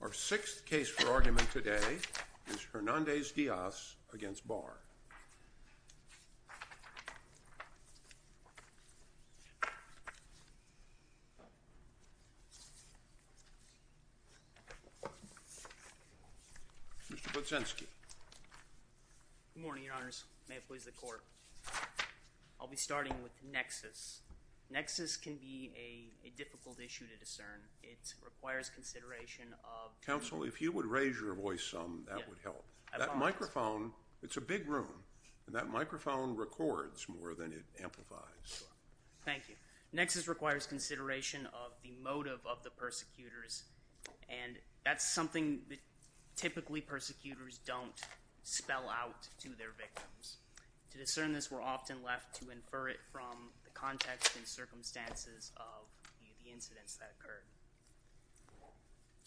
Our sixth case for argument today is Hernandez-Diaz v. Barr. Mr. Butzinski. Good morning, Your Honors. May it please the Court. Nexus can be a difficult issue to discern. It requires consideration of… Counsel, if you would raise your voice some, that would help. I apologize. That microphone, it's a big room, and that microphone records more than it amplifies. Thank you. Nexus requires consideration of the motive of the persecutors, and that's something that typically persecutors don't spell out to their victims. To discern this, we're often left to infer it from the context and circumstances of the incidents that occurred.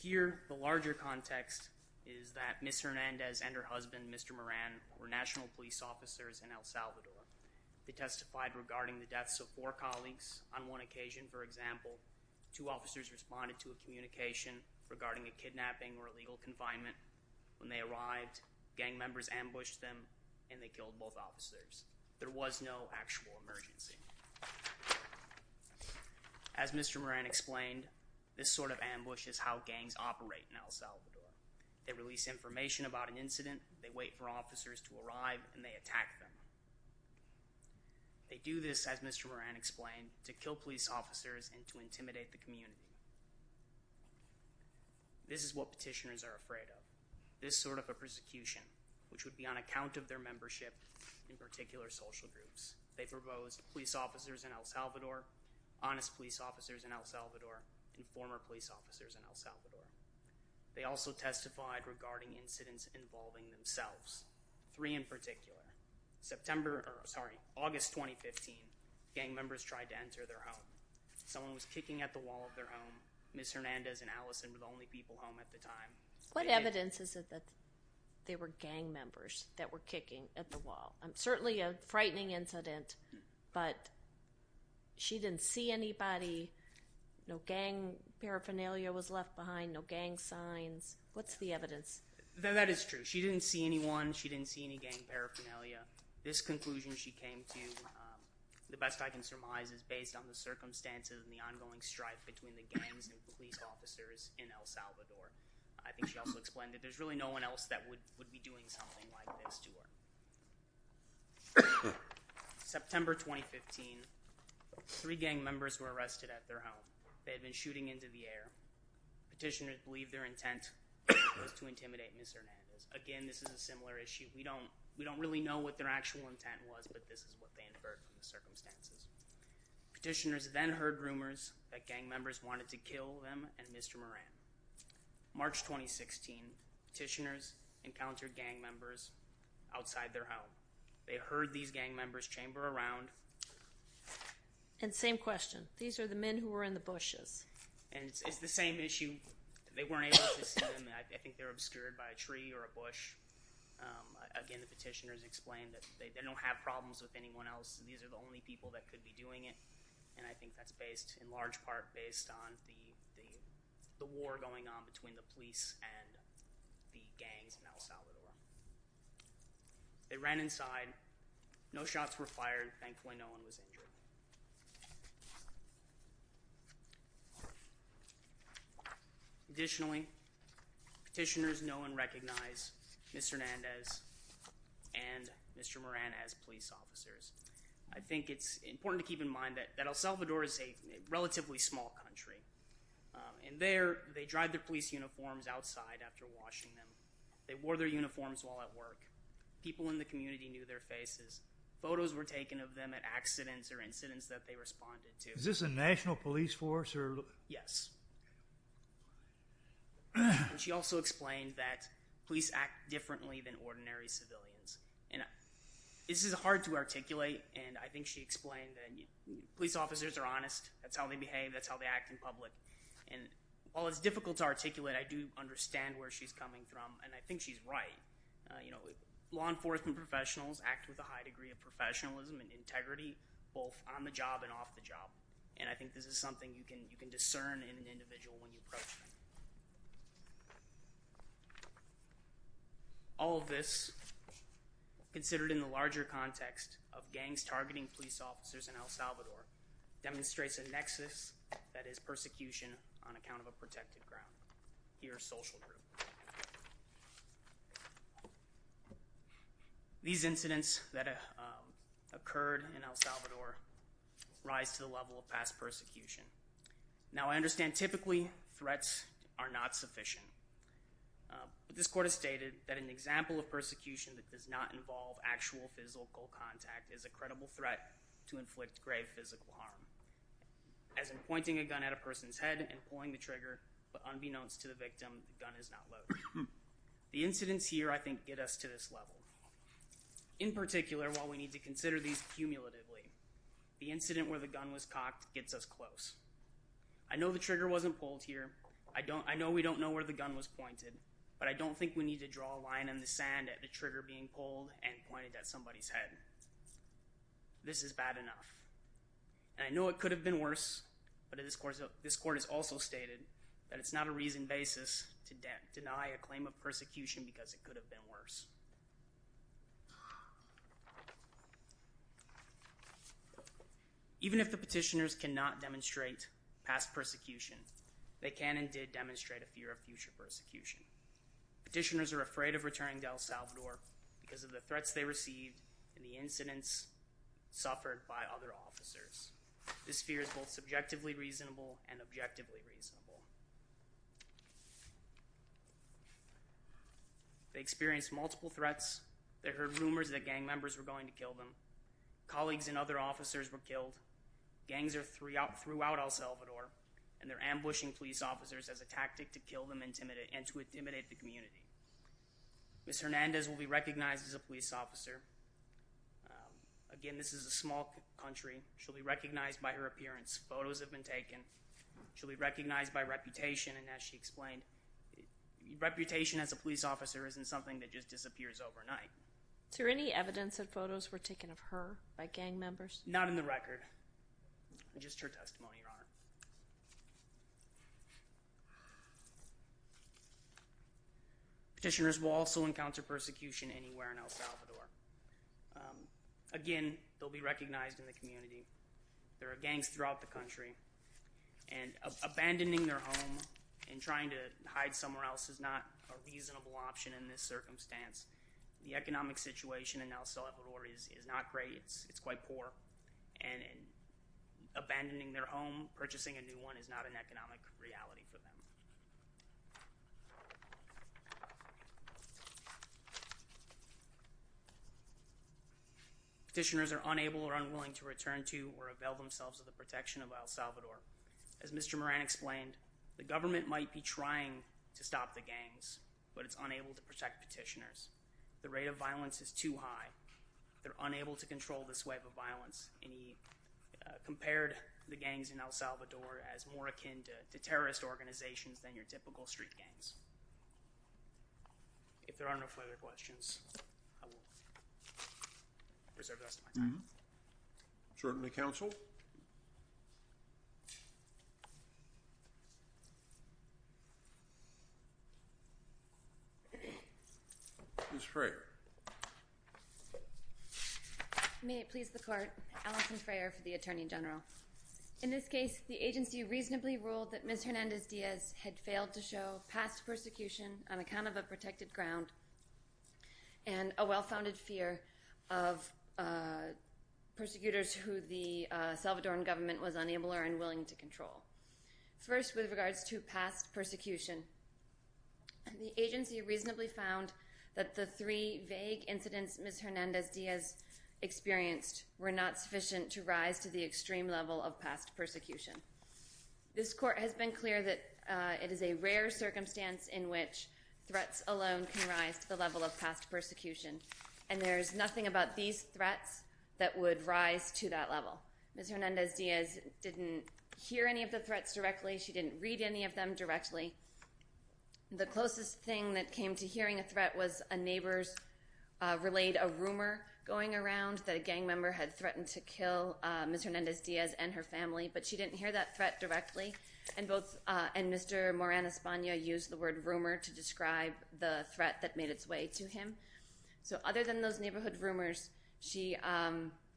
Here, the larger context is that Ms. Hernandez and her husband, Mr. Moran, were national police officers in El Salvador. They testified regarding the deaths of four colleagues on one occasion. For example, two officers responded to a communication regarding a kidnapping or illegal confinement. When they arrived, gang members ambushed them, and they killed both officers. There was no actual emergency. As Mr. Moran explained, this sort of ambush is how gangs operate in El Salvador. They release information about an incident, they wait for officers to arrive, and they attack them. They do this, as Mr. Moran explained, to kill police officers and to intimidate the community. This is what petitioners are afraid of. This sort of a persecution, which would be on account of their membership in particular social groups. They proposed police officers in El Salvador, honest police officers in El Salvador, and former police officers in El Salvador. They also testified regarding incidents involving themselves, three in particular. August 2015, gang members tried to enter their home. Someone was kicking at the wall of their home. Ms. Hernandez and Allison were the only people home at the time. What evidence is it that there were gang members that were kicking at the wall? Certainly a frightening incident, but she didn't see anybody. No gang paraphernalia was left behind, no gang signs. What's the evidence? That is true. She didn't see anyone. She didn't see any gang paraphernalia. This conclusion she came to, the best I can surmise, is based on the circumstances and the ongoing strife between the gangs and police officers in El Salvador. I think she also explained that there's really no one else that would be doing something like this to her. September 2015, three gang members were arrested at their home. They had been shooting into the air. Petitioners believe their intent was to intimidate Ms. Hernandez. Again, this is a similar issue. We don't really know what their actual intent was, but this is what they inferred from the circumstances. Petitioners then heard rumors that gang members wanted to kill them and Mr. Moran. March 2016, petitioners encountered gang members outside their home. They heard these gang members chamber around. And same question. These are the men who were in the bushes. And it's the same issue. They weren't able to see them. I think they were obscured by a tree or a bush. Again, the petitioners explained that they don't have problems with anyone else. These are the only people that could be doing it. And I think that's based, in large part, based on the war going on between the police and the gangs in El Salvador. They ran inside. No shots were fired. Thankfully, no one was injured. Additionally, petitioners know and recognize Mr. Hernandez and Mr. Moran as police officers. I think it's important to keep in mind that El Salvador is a relatively small country. And there, they drive their police uniforms outside after washing them. They wore their uniforms while at work. People in the community knew their faces. Photos were taken of them at accidents or incidents that they responded to. Is this a national police force? Yes. And she also explained that police act differently than ordinary civilians. And this is hard to articulate. And I think she explained that police officers are honest. That's how they behave. That's how they act in public. And while it's difficult to articulate, I do understand where she's coming from. And I think she's right. Law enforcement professionals act with a high degree of professionalism and integrity, both on the job and off the job. And I think this is something you can discern in an individual when you approach them. All of this, considered in the larger context of gangs targeting police officers in El Salvador, demonstrates a nexus that is persecution on account of a protected ground. Here's Social Group. These incidents that occurred in El Salvador rise to the level of past persecution. Now, I understand typically threats are not sufficient. But this court has stated that an example of persecution that does not involve actual physical contact is a credible threat to inflict grave physical harm. As in pointing a gun at a person's head and pulling the trigger, but unbeknownst to the victim, the gun is not loaded. The incidents here, I think, get us to this level. In particular, while we need to consider these cumulatively, the incident where the gun was cocked gets us close. I know the trigger wasn't pulled here. I know we don't know where the gun was pointed. But I don't think we need to draw a line in the sand at the trigger being pulled and pointed at somebody's head. This is bad enough. And I know it could have been worse. But this court has also stated that it's not a reasoned basis to deny a claim of persecution because it could have been worse. Even if the petitioners cannot demonstrate past persecution, they can and did demonstrate a fear of future persecution. Petitioners are afraid of returning to El Salvador because of the threats they received and the incidents suffered by other officers. This fear is both subjectively reasonable and objectively reasonable. They experienced multiple threats. They heard rumors that gang members were going to kill them. Colleagues and other officers were killed. Gangs are throughout El Salvador, and they're ambushing police officers as a tactic to kill them and to intimidate the community. Ms. Hernandez will be recognized as a police officer. Again, this is a small country. She'll be recognized by her appearance. Photos have been taken. She'll be recognized by reputation, and as she explained, reputation as a police officer isn't something that just disappears overnight. Is there any evidence that photos were taken of her by gang members? Not in the record. Just her testimony, Your Honor. Petitioners will also encounter persecution anywhere in El Salvador. Again, they'll be recognized in the community. There are gangs throughout the country, and abandoning their home and trying to hide somewhere else is not a reasonable option in this circumstance. The economic situation in El Salvador is not great. It's quite poor, and abandoning their home, purchasing a new one, is not an economic reality for them. Petitioners are unable or unwilling to return to or avail themselves of the protection of El Salvador. As Mr. Moran explained, the government might be trying to stop the gangs, but it's unable to protect petitioners. The rate of violence is too high. They're unable to control this wave of violence, and he compared the gangs in El Salvador as more akin to terrorist organizations than your typical street gangs. If there are no further questions, I will reserve the rest of my time. Certainly, Counsel. Ms. Freer. May it please the Court. Allison Freer for the Attorney General. In this case, the agency reasonably ruled that Ms. Hernandez-Diaz had failed to show past persecution on account of a protected ground and a well-founded fear of persecutors who the Salvadoran government was unable or unwilling to control. First, with regards to past persecution, the agency reasonably found that the three vague incidents Ms. Hernandez-Diaz experienced were not sufficient to rise to the extreme level of past persecution. This Court has been clear that it is a rare circumstance in which threats alone can rise to the level of past persecution, and there is nothing about these threats that would rise to that level. Ms. Hernandez-Diaz didn't hear any of the threats directly. She didn't read any of them directly. The closest thing that came to hearing a threat was a neighbor's relayed a rumor going around that a gang member had threatened to kill Ms. Hernandez-Diaz and her family, but she didn't hear that threat directly, and Mr. Moran Espana used the word rumor to describe the threat that made its way to him. So other than those neighborhood rumors, she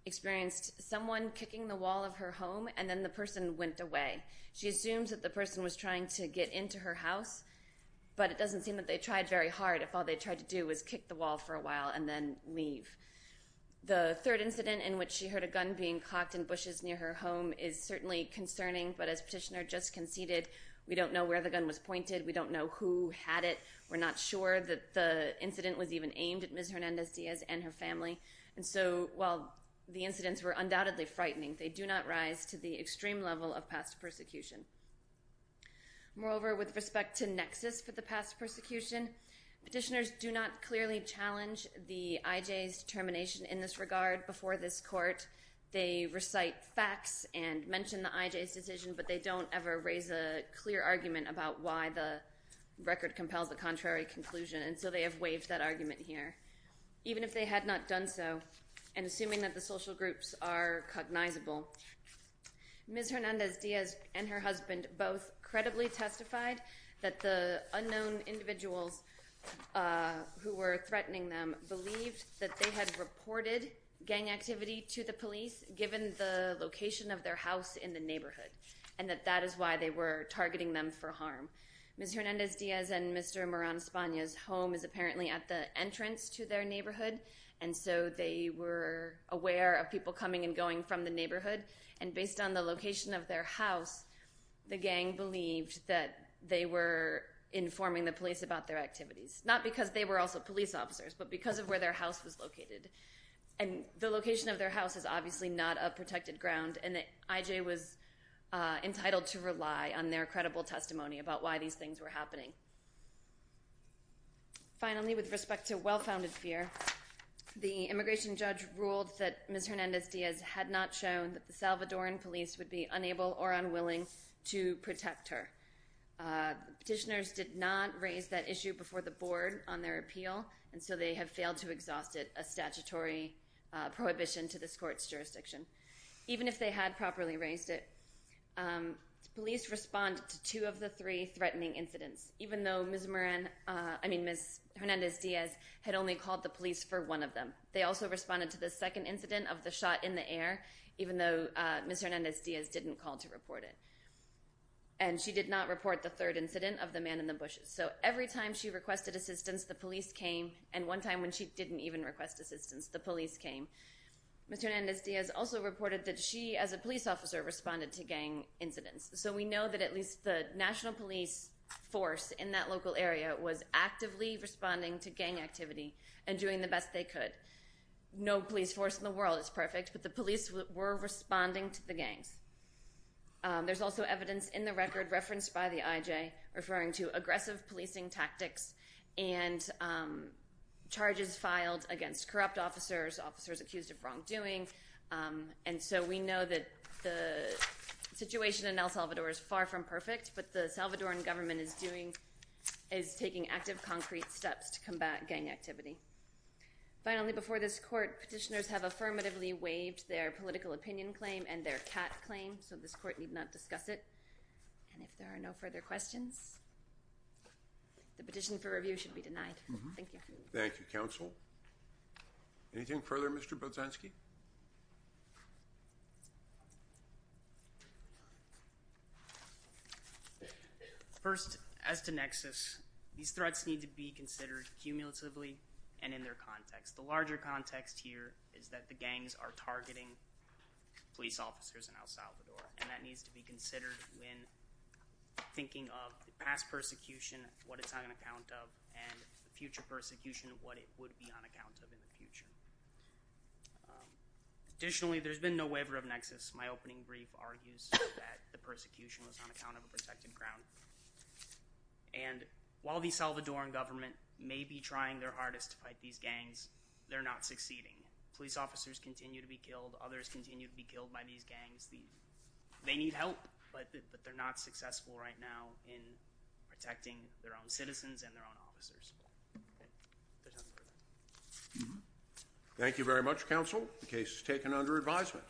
experienced someone kicking the wall of her home and then the person went away. She assumes that the person was trying to get into her house, but it doesn't seem that they tried very hard if all they tried to do was kick the wall for a while and then leave. The third incident in which she heard a gun being clocked in bushes near her home is certainly concerning, but as Petitioner just conceded, we don't know where the gun was pointed, we don't know who had it, we're not sure that the incident was even aimed at Ms. Hernandez-Diaz and her family. And so while the incidents were undoubtedly frightening, they do not rise to the extreme level of past persecution. Moreover, with respect to nexus for the past persecution, petitioners do not clearly challenge the IJ's determination in this regard. Right before this court, they recite facts and mention the IJ's decision, but they don't ever raise a clear argument about why the record compels a contrary conclusion, and so they have waived that argument here, even if they had not done so, and assuming that the social groups are cognizable. Ms. Hernandez-Diaz and her husband both credibly testified that the unknown individuals who were threatening them believed that they had reported gang activity to the police given the location of their house in the neighborhood, and that that is why they were targeting them for harm. Ms. Hernandez-Diaz and Mr. Moran Espana's home is apparently at the entrance to their neighborhood, and so they were aware of people coming and going from the neighborhood, and based on the location of their house, the gang believed that they were informing the police about their activities. Not because they were also police officers, but because of where their house was located. And the location of their house is obviously not a protected ground, and the IJ was entitled to rely on their credible testimony about why these things were happening. Finally, with respect to well-founded fear, the immigration judge ruled that Ms. Hernandez-Diaz had not shown that the Salvadoran police would be unable or unwilling to protect her. Petitioners did not raise that issue before the board on their appeal, and so they have failed to exhaust it, a statutory prohibition to this court's jurisdiction. Even if they had properly raised it, police responded to two of the three threatening incidents, even though Ms. Hernandez-Diaz had only called the police for one of them. They also responded to the second incident of the shot in the air, even though Ms. Hernandez-Diaz didn't call to report it. And she did not report the third incident of the man in the bushes. So every time she requested assistance, the police came, and one time when she didn't even request assistance, the police came. Ms. Hernandez-Diaz also reported that she, as a police officer, responded to gang incidents. So we know that at least the national police force in that local area was actively responding to gang activity and doing the best they could. No police force in the world is perfect, but the police were responding to the gangs. There's also evidence in the record referenced by the IJ referring to aggressive policing tactics and charges filed against corrupt officers, officers accused of wrongdoing. And so we know that the situation in El Salvador is far from perfect, but the Salvadoran government is taking active, concrete steps to combat gang activity. Finally, before this court, petitioners have affirmatively waived their political opinion claim and their CAT claim, so this court need not discuss it. And if there are no further questions, the petition for review should be denied. Thank you. Thank you, counsel. Anything further, Mr. Bozanski? First, as to nexus, these threats need to be considered cumulatively and in their context. The larger context here is that the gangs are targeting police officers in El Salvador, and that needs to be considered when thinking of past persecution, what it's on account of, and future persecution, what it would be on account of in the future. Additionally, there's been no waiver of nexus. My opening brief argues that the persecution was on account of a protected ground. And while the Salvadoran government may be trying their hardest to fight these gangs, they're not succeeding. Police officers continue to be killed. Others continue to be killed by these gangs. They need help, but they're not successful right now in protecting their own citizens and their own officers. Thank you very much, counsel. The case is taken under advisement.